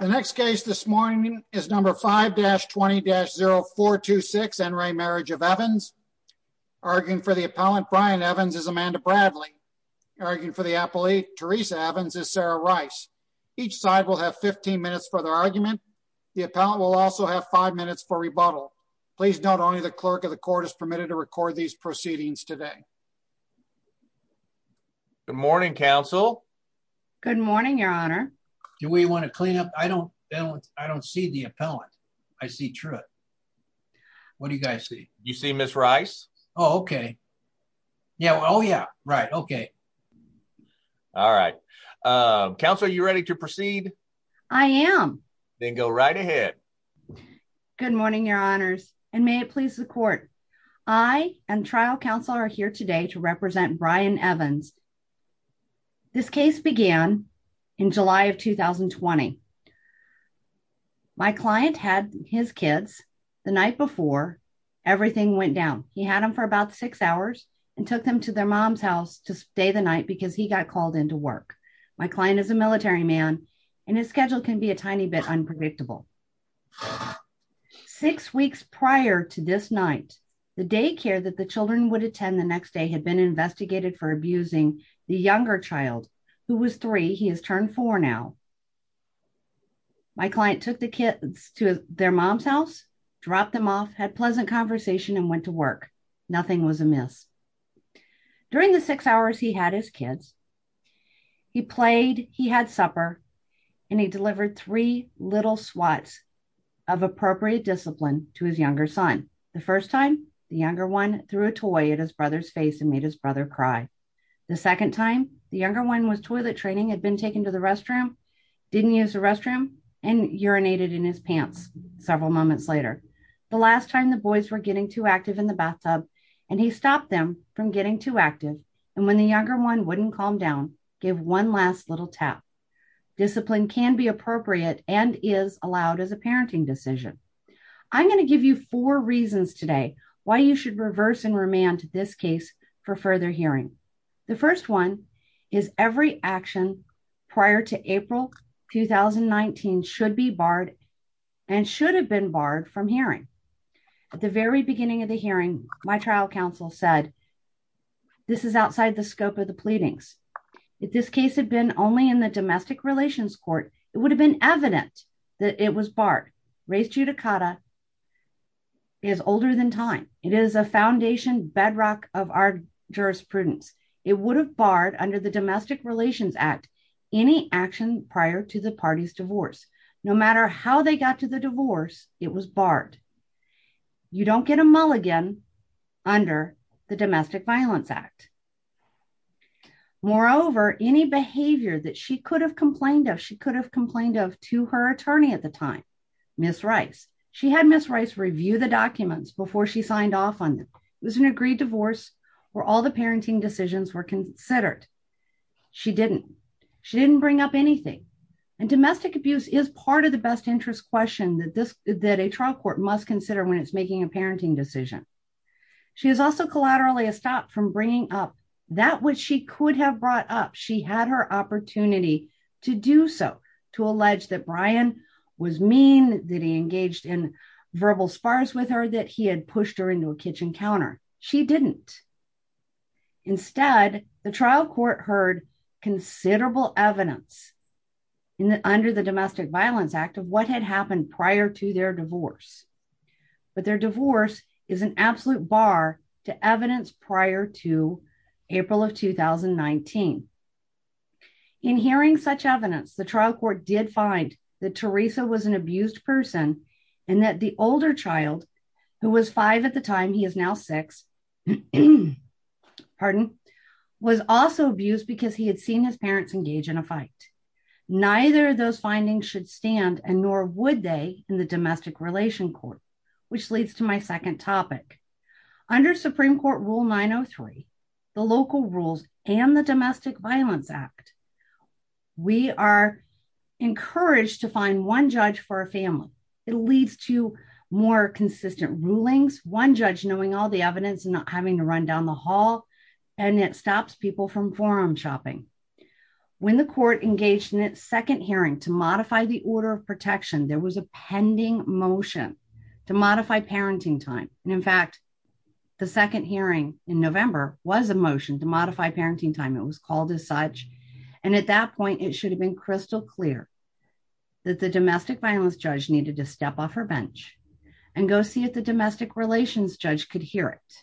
The next case this morning is number 5-20-0426, En Re Marriage of Evans. Arguing for the appellant, Brian Evans, is Amanda Bradley. Arguing for the appellate, Teresa Evans, is Sarah Rice. Each side will have 15 minutes for their argument. The appellant will also have 5 minutes for rebuttal. Please note only the clerk of the court is permitted to record these proceedings today. Good morning, counsel. Good morning, your honor. Do we want to clean up? I don't see the appellant. I see Truett. What do you guys see? You see Ms. Rice? Oh, okay. Oh, yeah, right, okay. All right. Counsel, are you ready to proceed? I am. Then go right ahead. Good morning, your honors. And may it please the court. I and trial counsel are here today to represent Brian Evans. This case began in July of 2020. My client had his kids the night before everything went down. He had them for about six hours and took them to their mom's house to stay the night because he got called in to work. My client is a military man, and his schedule can be a tiny bit unpredictable. Six weeks prior to this night, the daycare that the children would attend the next day had been investigated for abusing the younger child who was three. He has turned four now. My client took the kids to their mom's house, dropped them off, had pleasant conversation and went to work. Nothing was amiss. During the six hours he had his kids. He played, he had supper, and he delivered three little swats of appropriate discipline to his younger son. The first time, the younger one threw a toy at his brother's face and made his brother cry. The second time, the younger one was toilet training, had been taken to the restroom, didn't use the restroom, and urinated in his pants several moments later. The last time, the boys were getting too active in the bathtub, and he stopped them from getting too active. And when the younger one wouldn't calm down, gave one last little tap. Discipline can be appropriate and is allowed as a parenting decision. I'm going to give you four reasons today why you should reverse and remand this case for further hearing. The first one is every action prior to April 2019 should be barred and should have been barred from hearing. At the very beginning of the hearing, my trial counsel said, this is outside the scope of the pleadings. If this case had been only in the domestic relations court, it would have been evident that it was barred. Race judicata is older than time. It is a foundation bedrock of our jurisprudence. It would have barred under the Domestic Relations Act any action prior to the party's divorce. No matter how they got to the divorce, it was barred. You don't get a mulligan under the Domestic Violence Act. Moreover, any behavior that she could have complained of, she could have complained of to her attorney at the time, Ms. Rice. She had Ms. Rice review the documents before she signed off on them. It was an agreed divorce where all the parenting decisions were considered. She didn't. She didn't bring up anything. And domestic abuse is part of the best interest question that a trial court must consider when it's making a parenting decision. She was also collaterally stopped from bringing up that which she could have brought up. She had her opportunity to do so, to allege that Brian was mean, that he engaged in verbal spars with her, that he had pushed her into a kitchen counter. She didn't. Instead, the trial court heard considerable evidence under the Domestic Violence Act of what had happened prior to their divorce. But their divorce is an absolute bar to evidence prior to April of 2019. In hearing such evidence, the trial court did find that Teresa was an abused person and that the older child, who was five at the time, he is now six, pardon, was also abused because he had seen his parents engage in a fight. Neither of those findings should stand and nor would they in the Domestic Relation Court, which leads to my second topic. Under Supreme Court Rule 903, the local rules and the Domestic Violence Act, we are encouraged to find one judge for a family. It leads to more consistent rulings, one judge knowing all the evidence and not having to run down the hall, and it stops people from forum shopping. When the court engaged in its second hearing to modify the order of protection, there was a pending motion to modify parenting time. In fact, the second hearing in November was a motion to modify parenting time. It was called as such. And at that point, it should have been crystal clear that the domestic violence judge needed to step off her bench and go see if the domestic relations judge could hear it.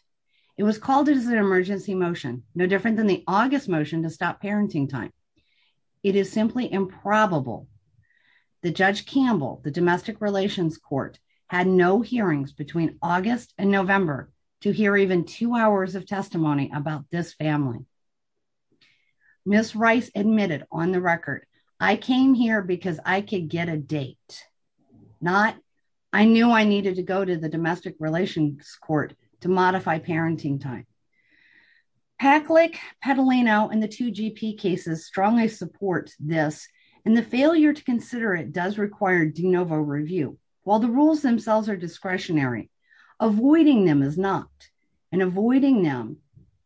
It was called as an emergency motion, no different than the August motion to stop parenting time. It is simply improbable that Judge Campbell, the Domestic Relations Court, had no hearings between August and November to hear even two hours of testimony about this family. Ms. Rice admitted on the record, I came here because I could get a date, not I knew I needed to go to the Domestic Relations Court to modify parenting time. PACLIC, Petalino, and the two GP cases strongly support this, and the failure to consider it does require de novo review. While the rules themselves are discretionary, avoiding them is not, and avoiding them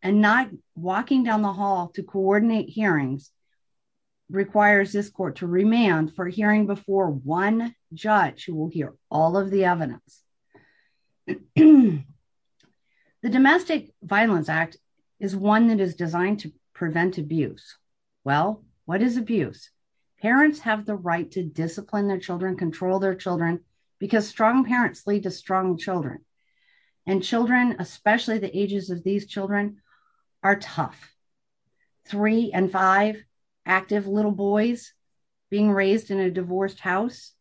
and not walking down the hall to coordinate hearings requires this court to remand for hearing before one judge who will hear all of the evidence. The Domestic Violence Act is one that is designed to prevent abuse. Well, what is abuse? Parents have the right to discipline their children, control their children, because strong parents lead to strong children. And children, especially the ages of these children, are tough. Three and five active little boys being raised in a divorced house.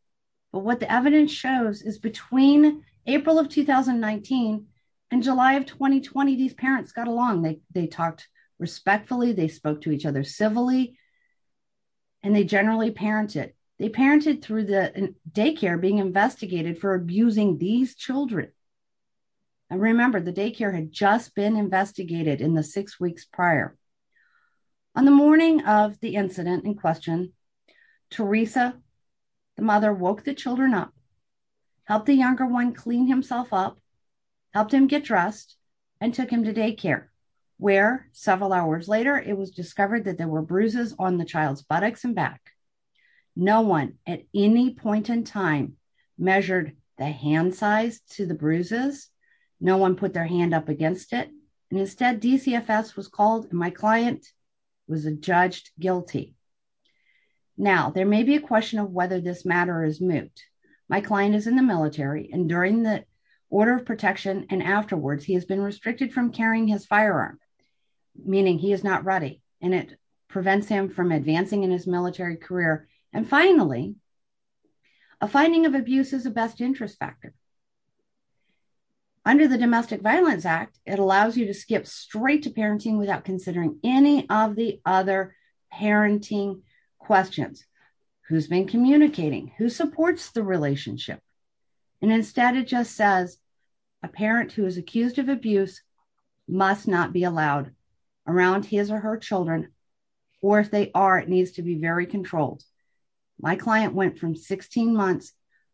But what the evidence shows is between April of 2019 and July of 2020, these parents got along. They talked respectfully, they spoke to each other civilly, and they generally parented. They parented through the daycare being investigated for abusing these children. And remember, the daycare had just been investigated in the six weeks prior. On the morning of the incident in question, Teresa, the mother, woke the children up, helped the younger one clean himself up, helped him get dressed, and took him to daycare, where several hours later, it was discovered that there were bruises on the child's buttocks and back. No one at any point in time measured the hand size to the bruises. No one put their hand up against it. And instead, DCFS was called, and my client was judged guilty. Now, there may be a question of whether this matter is moot. My client is in the military, and during the order of protection and afterwards, he has been restricted from carrying his firearm, meaning he is not ready, and it prevents him from advancing in his military career. And finally, a finding of abuse is the best interest factor. Under the Domestic Violence Act, it allows you to skip straight to parenting without considering any of the other parenting questions. Who's been communicating? Who supports the relationship? And instead, it just says, a parent who is accused of abuse must not be allowed around his or her children, or if they are, it needs to be very controlled. My client went from 16 months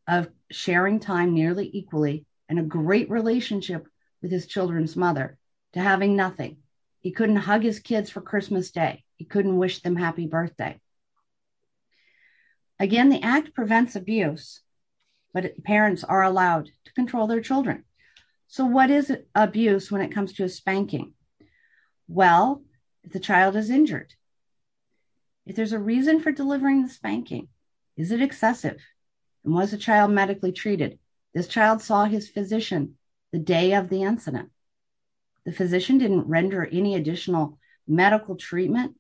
of sharing time nearly equally, and a great relationship with his children's mother, to having nothing. He couldn't hug his kids for Christmas Day. He couldn't wish them happy birthday. Again, the act prevents abuse, but parents are allowed to control their children. So what is abuse when it comes to a spanking? Well, if the child is injured. If there's a reason for delivering the spanking, is it excessive? And was the child medically treated? This child saw his physician the day of the incident. The physician didn't render any additional medical treatment.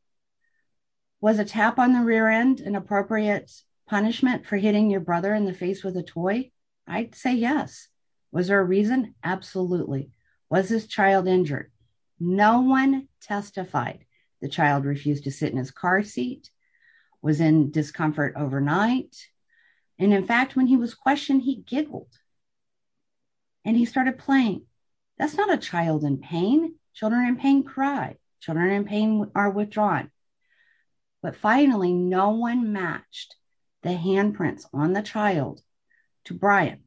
Was a tap on the rear end an appropriate punishment for hitting your brother in the face with a toy? I'd say yes. Was there a reason? Absolutely. Was this child injured? No one testified. The child refused to sit in his car seat. Was in discomfort overnight. And in fact, when he was questioned, he giggled. And he started playing. That's not a child in pain. Children in pain cry. Children in pain are withdrawn. But finally, no one matched the handprints on the child to Brian.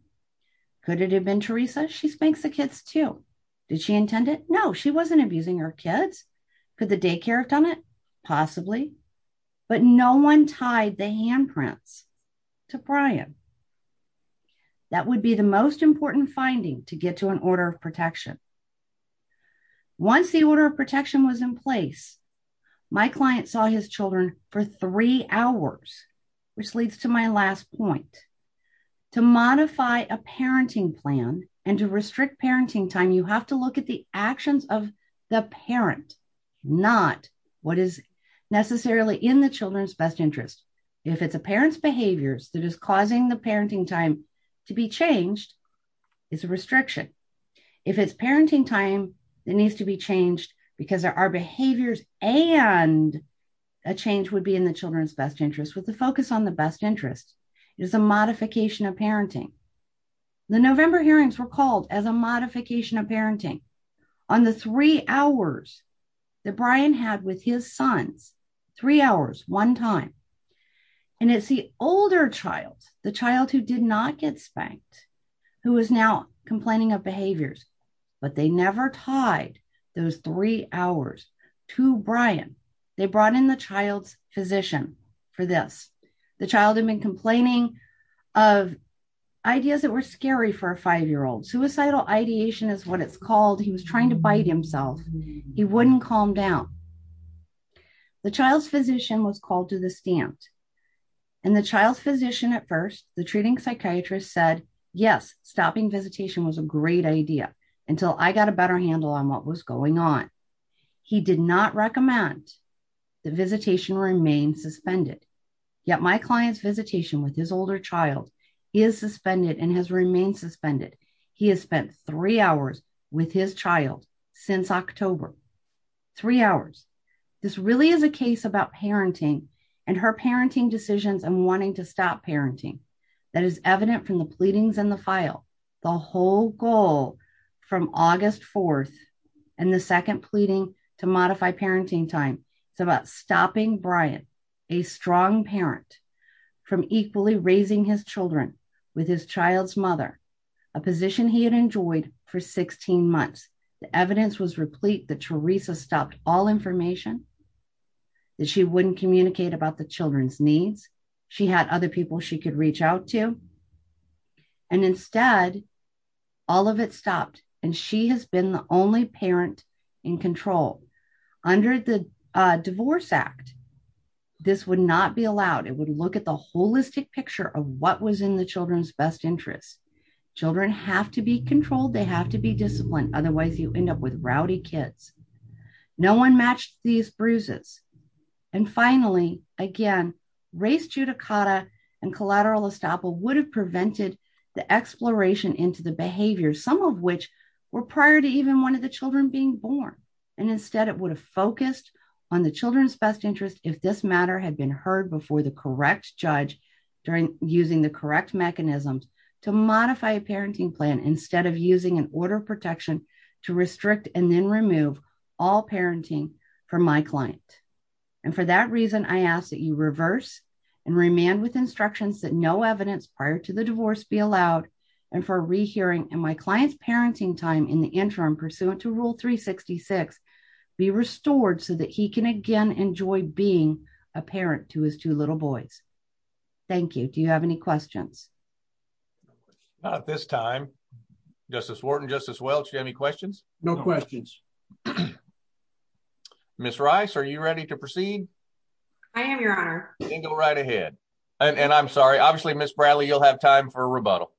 Could it have been Teresa? She spanks the kids too. Did she intend it? No. She wasn't abusing her kids. Could the daycare have done it? Possibly. But no one tied the handprints to Brian. That would be the most important finding to get to an order of protection. Once the order of protection was in place, my client saw his children for three hours, which leads to my last point. To modify a parenting plan and to restrict parenting time, you have to look at the actions of the parent. Not what is necessarily in the children's best interest. If it's a parent's behaviors that is causing the parenting time to be changed, it's a restriction. If it's parenting time, it needs to be changed because there are behaviors and a change would be in the children's best interest with the focus on the best interest. It is a modification of parenting. The November hearings were called as a modification of parenting. On the three hours that Brian had with his sons, three hours, one time. And it's the older child, the child who did not get spanked, who is now complaining of behaviors, but they never tied those three hours to Brian. They brought in the child's physician for this. The child had been complaining of ideas that were scary for a five-year-old. Suicidal ideation is what it's called. He was trying to bite himself. He wouldn't calm down. The child's physician was called to the stand. And the child's physician at first, the treating psychiatrist said, yes, stopping visitation was a great idea until I got a better handle on what was going on. He did not recommend the visitation remain suspended. Yet my client's visitation with his older child is suspended and has remained suspended. He has spent three hours with his child since October. Three hours. This really is a case about parenting and her parenting decisions and wanting to stop parenting. That is evident from the pleadings in the file. The whole goal from August 4th and the second pleading to modify parenting time. It's about stopping Brian, a strong parent, from equally raising his children with his child's mother, a position he had enjoyed for 16 months. The evidence was replete that Teresa stopped all information. That she wouldn't communicate about the children's needs. She had other people she could reach out to. And instead, all of it stopped. And she has been the only parent in control. Under the Divorce Act, this would not be allowed. It would look at the holistic picture of what was in the children's best interest. Children have to be controlled. They have to be disciplined. Otherwise, you end up with rowdy kids. No one matched these bruises. And finally, again, race judicata and collateral estoppel would have prevented the exploration into the behavior. Some of which were prior to even one of the children being born. And instead, it would have focused on the children's best interest if this matter had been heard before the correct judge during using the correct mechanisms to modify a parenting plan instead of using an order of protection to restrict and then remove all parenting from my client. And for that reason, I ask that you reverse and remand with instructions that no evidence prior to the divorce be allowed. And for a rehearing in my client's parenting time in the interim pursuant to Rule 366, be restored so that he can again enjoy being a parent to his two little boys. Thank you. Do you have any questions? Not at this time. Justice Wharton, Justice Welch, do you have any questions? No questions. Ms. Rice, are you ready to proceed? I am, Your Honor. Then go right ahead. And I'm sorry. Obviously, Ms. Bradley, you'll have time for a rebuttal.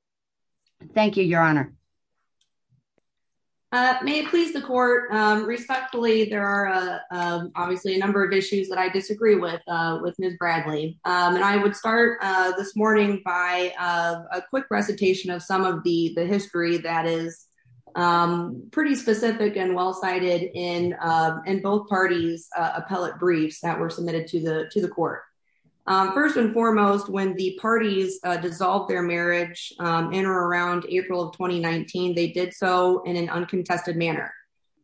Thank you, Your Honor. May it please the court. Respectfully, there are obviously a number of issues that I disagree with, with Ms. Bradley. And I would start this morning by a quick recitation of some of the history that is pretty specific and well-cited in both parties' appellate briefs that were submitted to the court. First and foremost, when the parties dissolved their marriage in or around April of 2019, they did so in an uncontested manner.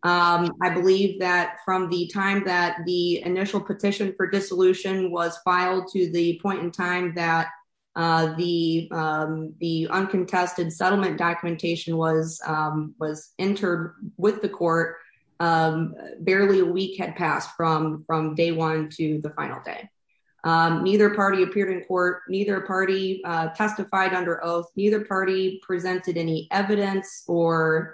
I believe that from the time that the initial petition for dissolution was filed to the point in time that the uncontested settlement documentation was entered with the court, barely a week had passed from day one to the final day. Neither party appeared in court, neither party testified under oath, neither party presented any evidence or,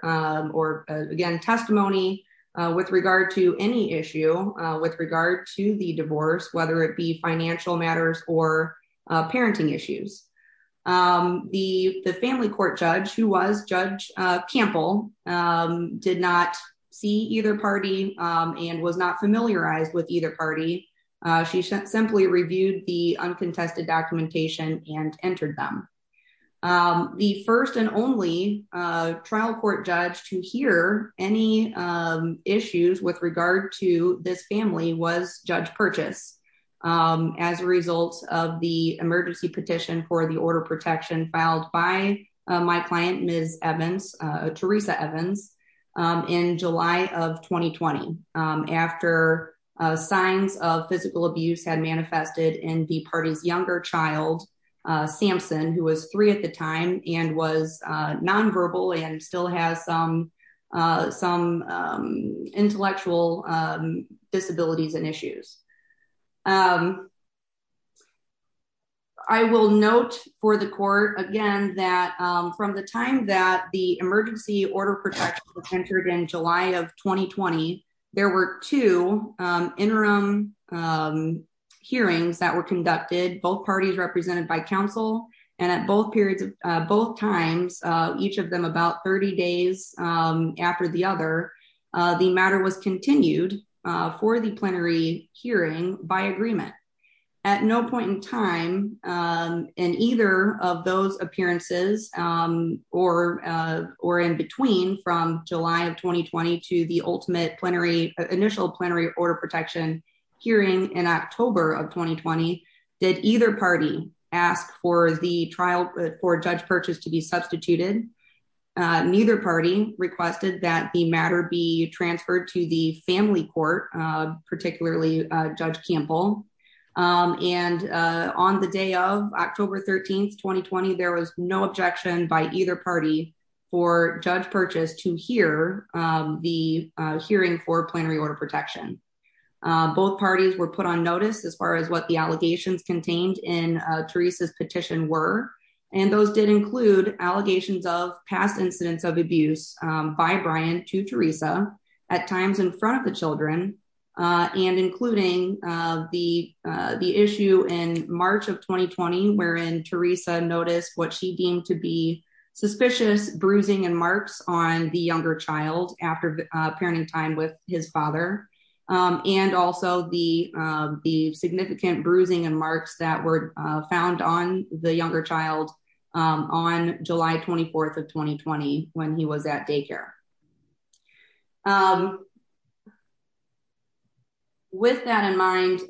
again, testimony with regard to any issue with regard to the divorce, whether it be financial matters or parenting issues. The family court judge, who was Judge Campbell, did not see either party and was not familiarized with either party. She simply reviewed the uncontested documentation and entered them. The first and only trial court judge to hear any issues with regard to this family was Judge Purchase, as a result of the emergency petition for the order of protection filed by my client Ms. Evans, Teresa Evans, in July of 2020. After signs of physical abuse had manifested in the party's younger child, Samson, who was three at the time and was nonverbal and still has some intellectual disabilities and issues. I will note for the court, again, that from the time that the emergency order protection was entered in July of 2020, there were two interim hearings that were conducted, both parties represented by counsel, and at both periods of both times, each of them about 30 days after the other. The matter was continued for the plenary hearing by agreement. At no point in time in either of those appearances, or in between from July of 2020 to the ultimate initial plenary order protection hearing in October of 2020, did either party ask for the trial court judge purchase to be substituted. Neither party requested that the matter be transferred to the family court, particularly Judge Campbell. And on the day of October 13, 2020, there was no objection by either party for Judge Purchase to hear the hearing for plenary order protection. Both parties were put on notice as far as what the allegations contained in Teresa's petition were, and those did include allegations of past incidents of abuse by Brian to Teresa at times in front of the children, and including the issue in March of 2020, wherein Teresa noticed what she deemed to be suspicious bruising and marks on the younger child after parenting time with his father. And also the, the significant bruising and marks that were found on the younger child on July 24 of 2020, when he was at daycare. With that in mind,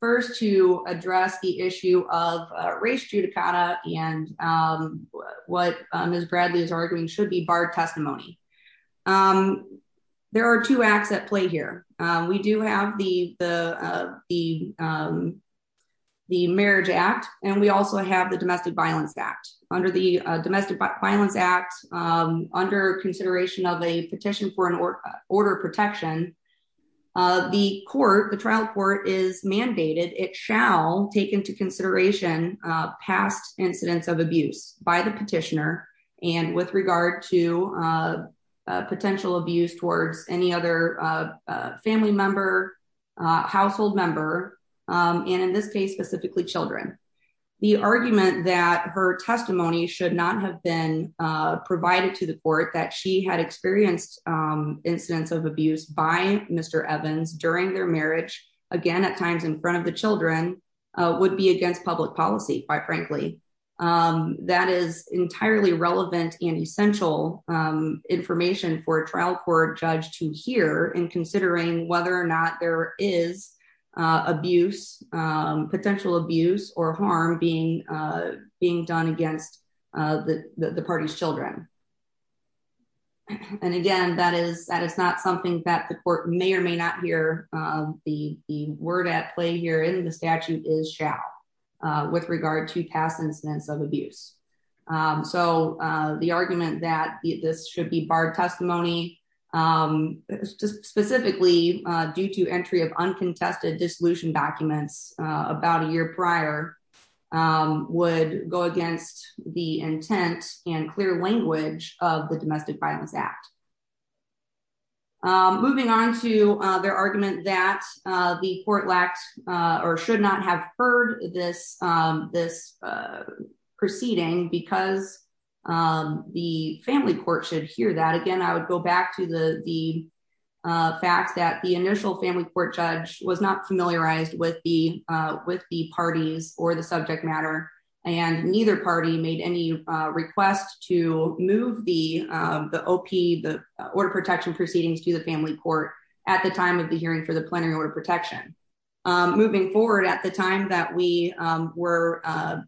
first to address the issue of race judicata, and what is Bradley's arguing should be barred testimony. There are two acts at play here, we do have the, the, the marriage act, and we also have the domestic violence act under the domestic violence act under consideration of a petition for an order protection. The court, the trial court is mandated, it shall take into consideration past incidents of abuse by the petitioner, and with regard to potential abuse towards any other family member household member. And in this case specifically children. The argument that her testimony should not have been provided to the court that she had experienced incidents of abuse by Mr Evans during their marriage, again at times in front of the children would be against public policy, quite frankly, that is entirely relevant and essential information for trial court judge to hear and considering whether or not there is abuse potential abuse or harm being being done against the party's children. And again, that is that it's not something that the court may or may not hear the word at play here in the statute is shall with regard to past incidents of abuse. So, the argument that this should be barred testimony, specifically due to entry of uncontested dissolution documents, about a year prior, would go against the intent and clear language of the domestic violence act. Moving on to their argument that the court lacks, or should not have heard this, this proceeding because the family court should hear that again I would go back to the, the fact that the initial family court judge was not familiarized with the with the parties or the subject matter, and neither party made any request to move the, the op the order protection proceedings to the family court at the time of the hearing for the plenary order protection. Moving forward at the time that we were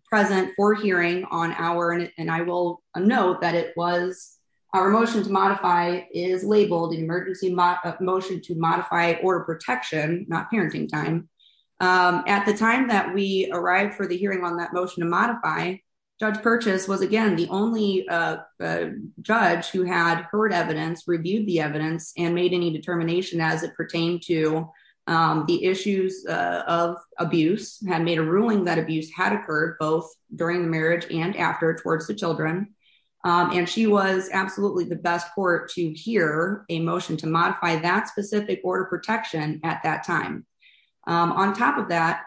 present for hearing on our, and I will note that it was our motion to modify is labeled emergency motion to modify order protection, not parenting time. At the time that we arrived for the hearing on that motion to modify judge purchase was again the only judge who had heard evidence reviewed the evidence and made any determination as it pertained to the issues of abuse had made a ruling that abuse had occurred both during the marriage and after towards the children, and she was absolutely the best court to hear a motion to modify that specific order protection at that time. On top of that,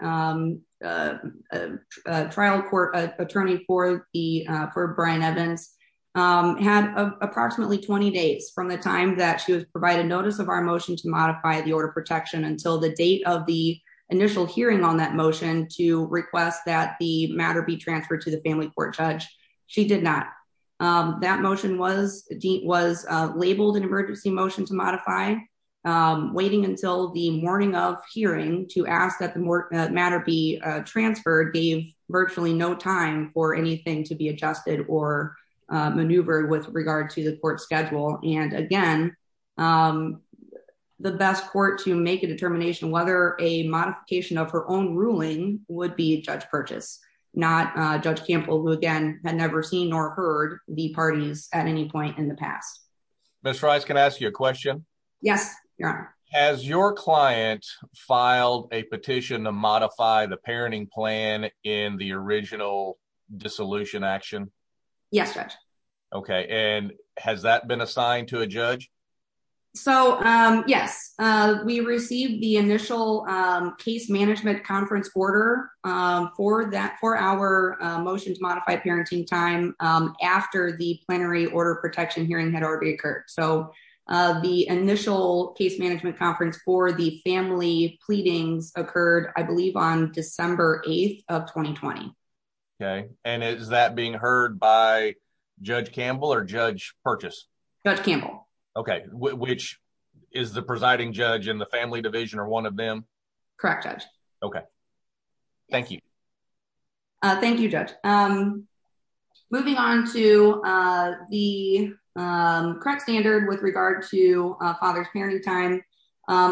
trial court attorney for the for Brian Evans had approximately 20 days from the time that she was provided notice of our motion to modify the order protection until the date of the initial hearing on that motion to request that the matter be transferred to the family court judge. She did not. That motion was was labeled an emergency motion to modify waiting until the morning of hearing to ask that the matter be transferred gave virtually no time for anything to be adjusted or maneuver with regard to the court schedule, and again, the best court to make a determination whether a modification of her own ruling would be judge purchase, not judge Campbell who again had never seen or heard the parties at any point in the past. Miss Rice can ask you a question. Yes. As your client filed a petition to modify the parenting plan in the original dissolution action. Yes. Okay. And has that been assigned to a judge. So, yes, we received the initial case management conference order for that for our motion to modify parenting time after the plenary order protection hearing had already occurred so the initial case management conference for the family pleadings occurred, I believe on December 8 of 2020. Okay. And is that being heard by Judge Campbell or judge purchase. Okay, which is the presiding judge and the family division or one of them. Correct. Okay. Thank you. Thank you, Judge. Moving on to the correct standard with regard to father's parenting time.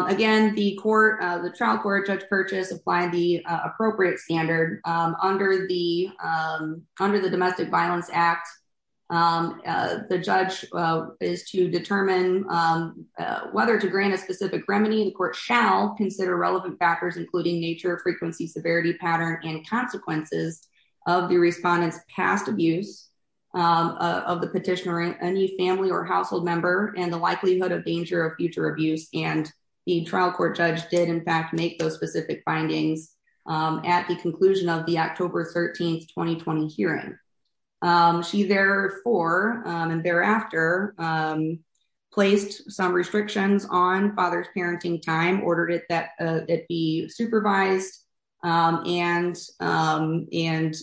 Again, the court, the trial court judge purchase apply the appropriate standard under the under the domestic violence act. The judge is to determine whether to grant a specific remedy the court shall consider relevant factors including nature frequency severity pattern and consequences of the respondents past abuse of the petition or any family or household member, and the likelihood of danger of future abuse and the trial court judge did in fact make those specific findings. At the conclusion of the October 13 2020 hearing. She therefore, and thereafter, placed some restrictions on father's parenting time ordered it that it be supervised and and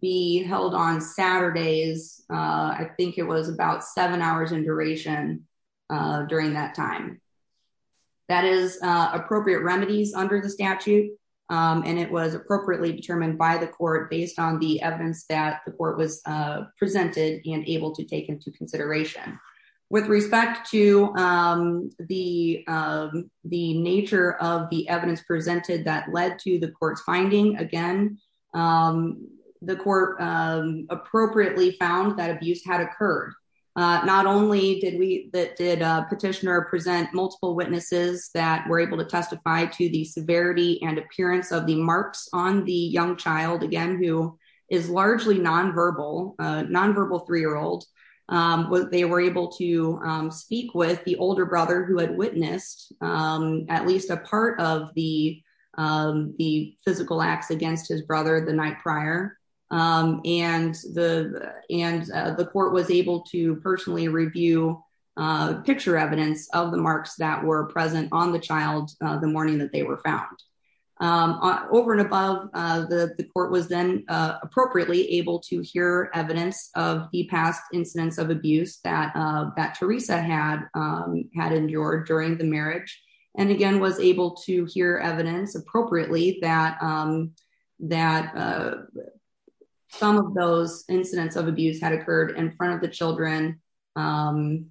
be held on Saturdays. I think it was about seven hours in duration. During that time. That is appropriate remedies under the statute, and it was appropriately determined by the court based on the evidence that the court was presented and able to take into consideration. With respect to the, the nature of the evidence presented that led to the court's finding again. The court appropriately found that abuse had occurred. Not only did we that did petitioner present multiple witnesses that were able to testify to the severity and appearance of the marks on the young child again who is largely nonverbal nonverbal three year old. They were able to speak with the older brother who had witnessed at least a part of the, the physical acts against his brother the night prior, and the, and the court was able to personally review picture evidence of the marks that were present on the child, the morning that they were found over and above the court was then appropriately able to hear evidence of the past incidents of abuse that that Teresa had had endured during the marriage, and again was able to hear evidence appropriately that that some of those incidents of abuse had occurred in front of the children, and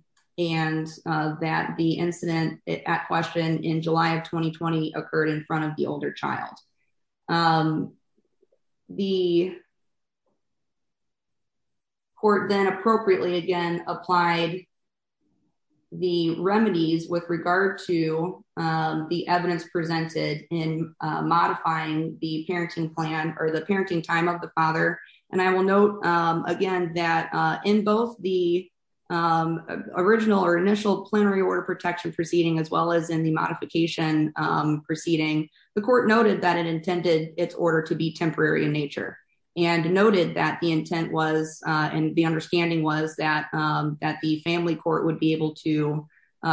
that the incident at question in July of 2020 occurred in front of the older child. The court then appropriately again applied the remedies with regard to the evidence presented in modifying the parenting plan or the parenting time of the father, and I will note again that in both the original or initial plenary order protection proceeding as well as in the modification proceeding, the court noted that it intended its order to be temporary in nature, and noted that the intent was, and the understanding was that that the family court would be able to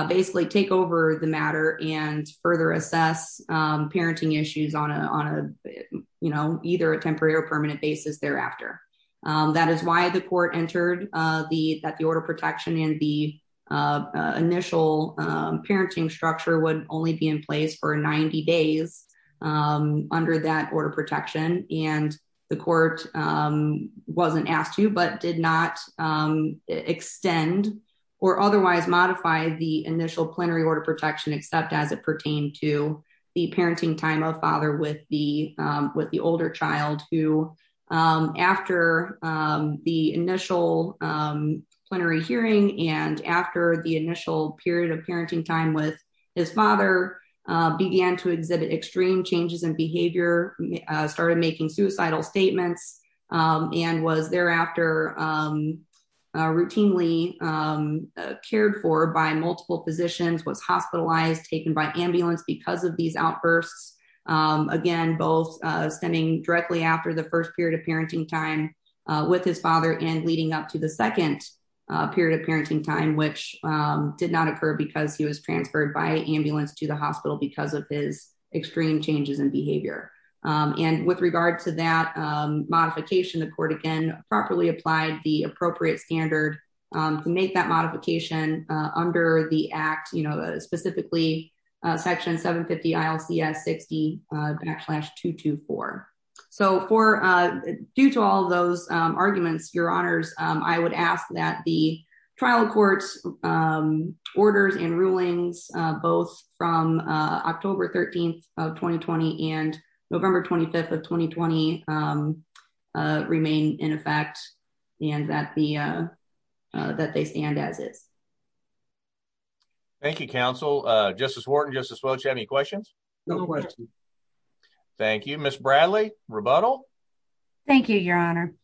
basically take over the matter and further assess parenting issues on a, on a, you know, either a temporary or permanent basis thereafter. That is why the court entered the that the order protection in the initial parenting structure would only be in place for 90 days under that order protection, and the court wasn't asked to but did not extend or otherwise modify the initial plenary order protection except as it pertained to the parenting time of father with the, with the older child who, after the initial plenary hearing and after the initial period of parenting time with his father began to exhibit extreme changes in behavior started making suicidal statements, and was thereafter routinely cared for by multiple physicians was hospitalized taken by ambulance because of these outbursts. standing directly after the first period of parenting time with his father and leading up to the second period of parenting time which did not occur because he was transferred by ambulance to the hospital because of his extreme changes in behavior. And with regard to that modification the court again properly applied the appropriate standard to make that modification under the act you know specifically section 750 ILCS 60 backslash 224. So for due to all those arguments, your honors, I would ask that the trial courts orders and rulings, both from October 13 of 2020 and November 25 of 2020 remain in effect, and that the that they stand as is. Thank you, counsel, Justice Wharton Justice Welch any questions. No question. Thank you, Miss Bradley rebuttal. Thank you, Your Honor.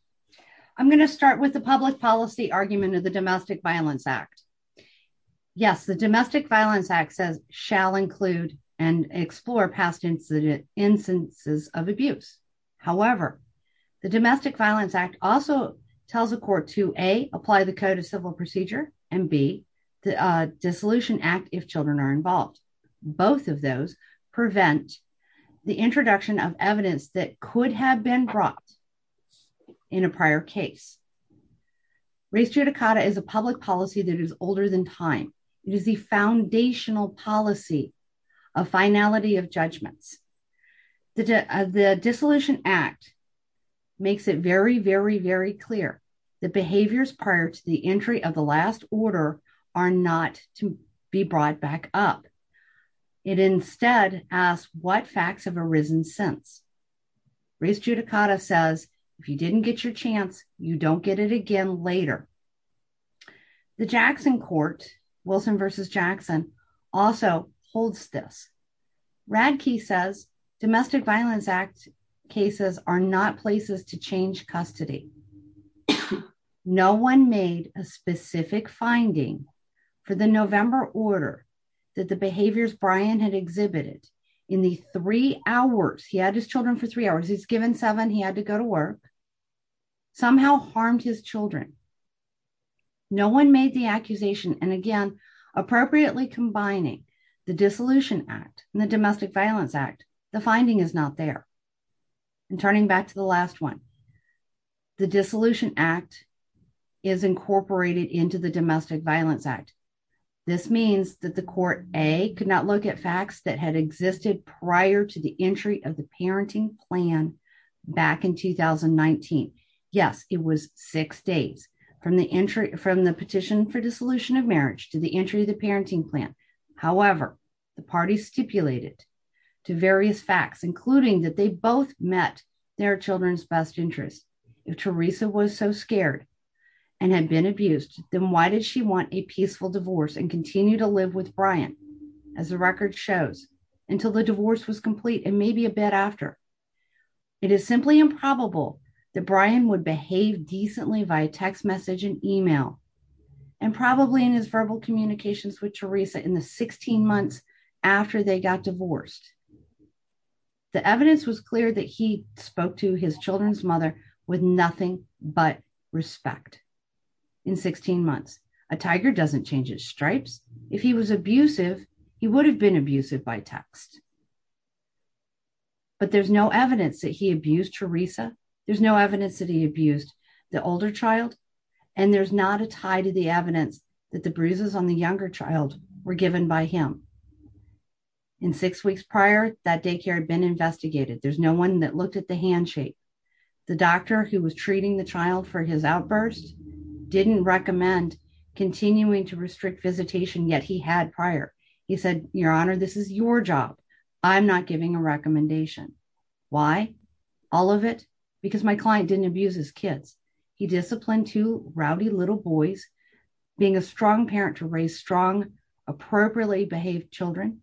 I'm going to start with the public policy argument of the Domestic Violence Act. Yes, the Domestic Violence Act says shall include and explore past incident instances of abuse. However, the Domestic Violence Act also tells the court to a apply the Code of Civil Procedure, and be the dissolution act if children are involved. Both of those prevent the introduction of evidence that could have been brought in a prior case. race judicata is a public policy that is older than time. It is the foundational policy of finality of judgments. The dissolution act makes it very very very clear that behaviors prior to the entry of the last order are not to be brought back up. It instead asked what facts have arisen since race judicata says, if you didn't get your chance. You don't get it again later. The Jackson court Wilson versus Jackson also holds this Radke says Domestic Violence Act cases are not places to change custody. No one made a specific finding for the November order that the behaviors Brian had exhibited in the three hours he had his children for three hours he's given seven he had to go to work, somehow harmed his children. No one made the accusation and again appropriately combining the dissolution act, the Domestic Violence Act, the finding is not there. And turning back to the last one. The dissolution act is incorporated into the Domestic Violence Act. This means that the court, a could not look at facts that had existed prior to the entry of the parenting plan. Back in 2019. Yes, it was six days from the entry from the petition for dissolution of marriage to the entry the parenting plan. However, the party stipulated to various facts, including that they both met their children's best interest. If Teresa was so scared and had been abused, then why did she want a peaceful divorce and continue to live with Brian. As the record shows, until the divorce was complete and maybe a bit after. It is simply improbable that Brian would behave decently via text message and email, and probably in his verbal communications with Teresa in the 16 months after they got divorced. The evidence was clear that he spoke to his children's mother with nothing but respect. In 16 months, a tiger doesn't change its stripes. If he was abusive. He would have been abusive by text. But there's no evidence that he abused Teresa, there's no evidence that he abused the older child. And there's not a tie to the evidence that the bruises on the younger child were given by him in six weeks prior that daycare had been investigated there's no one that looked at the handshake. The doctor who was treating the child for his outburst didn't recommend continuing to restrict visitation yet he had prior. He said, Your Honor, this is your job. I'm not giving a recommendation. Why all of it, because my client didn't abuse his kids. He disciplined to rowdy little boys, being a strong parent to raise strong appropriately behaved children.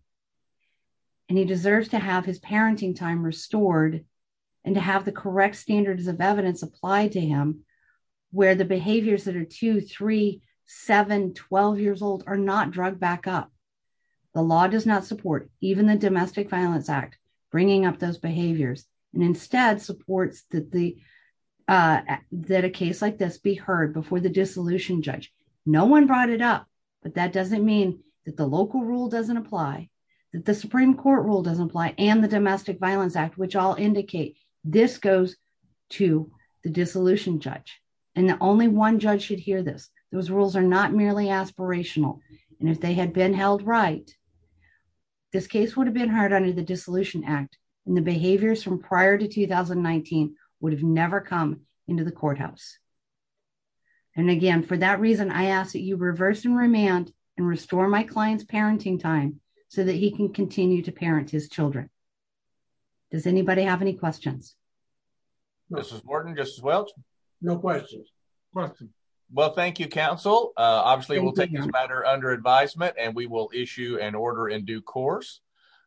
And he deserves to have his parenting time restored, and to have the correct standards of evidence applied to him, where the behaviors that are 237 12 years old are not drug backup. The law does not support, even the Domestic Violence Act, bringing up those behaviors, and instead supports that the that a case like this be heard before the dissolution judge. No one brought it up, but that doesn't mean that the local rule doesn't apply that the Supreme Court rule doesn't apply and the Domestic Violence Act which all indicate this goes to the dissolution judge, and the only one judge should hear this. Those rules are not merely aspirational, and if they had been held right. This case would have been hard under the dissolution act, and the behaviors from prior to 2019 would have never come into the courthouse. And again for that reason I asked you reverse and remand and restore my clients parenting time so that he can continue to parent his children. Does anybody have any questions. This is Morgan just as well. No questions. Well thank you counsel, obviously we'll take this matter under advisement and we will issue an order in due course.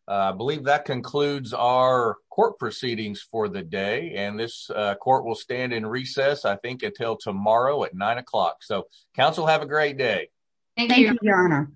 Believe that concludes our court proceedings for the day and this court will stand in recess I think until tomorrow at nine o'clock so council have a great day. Thank you.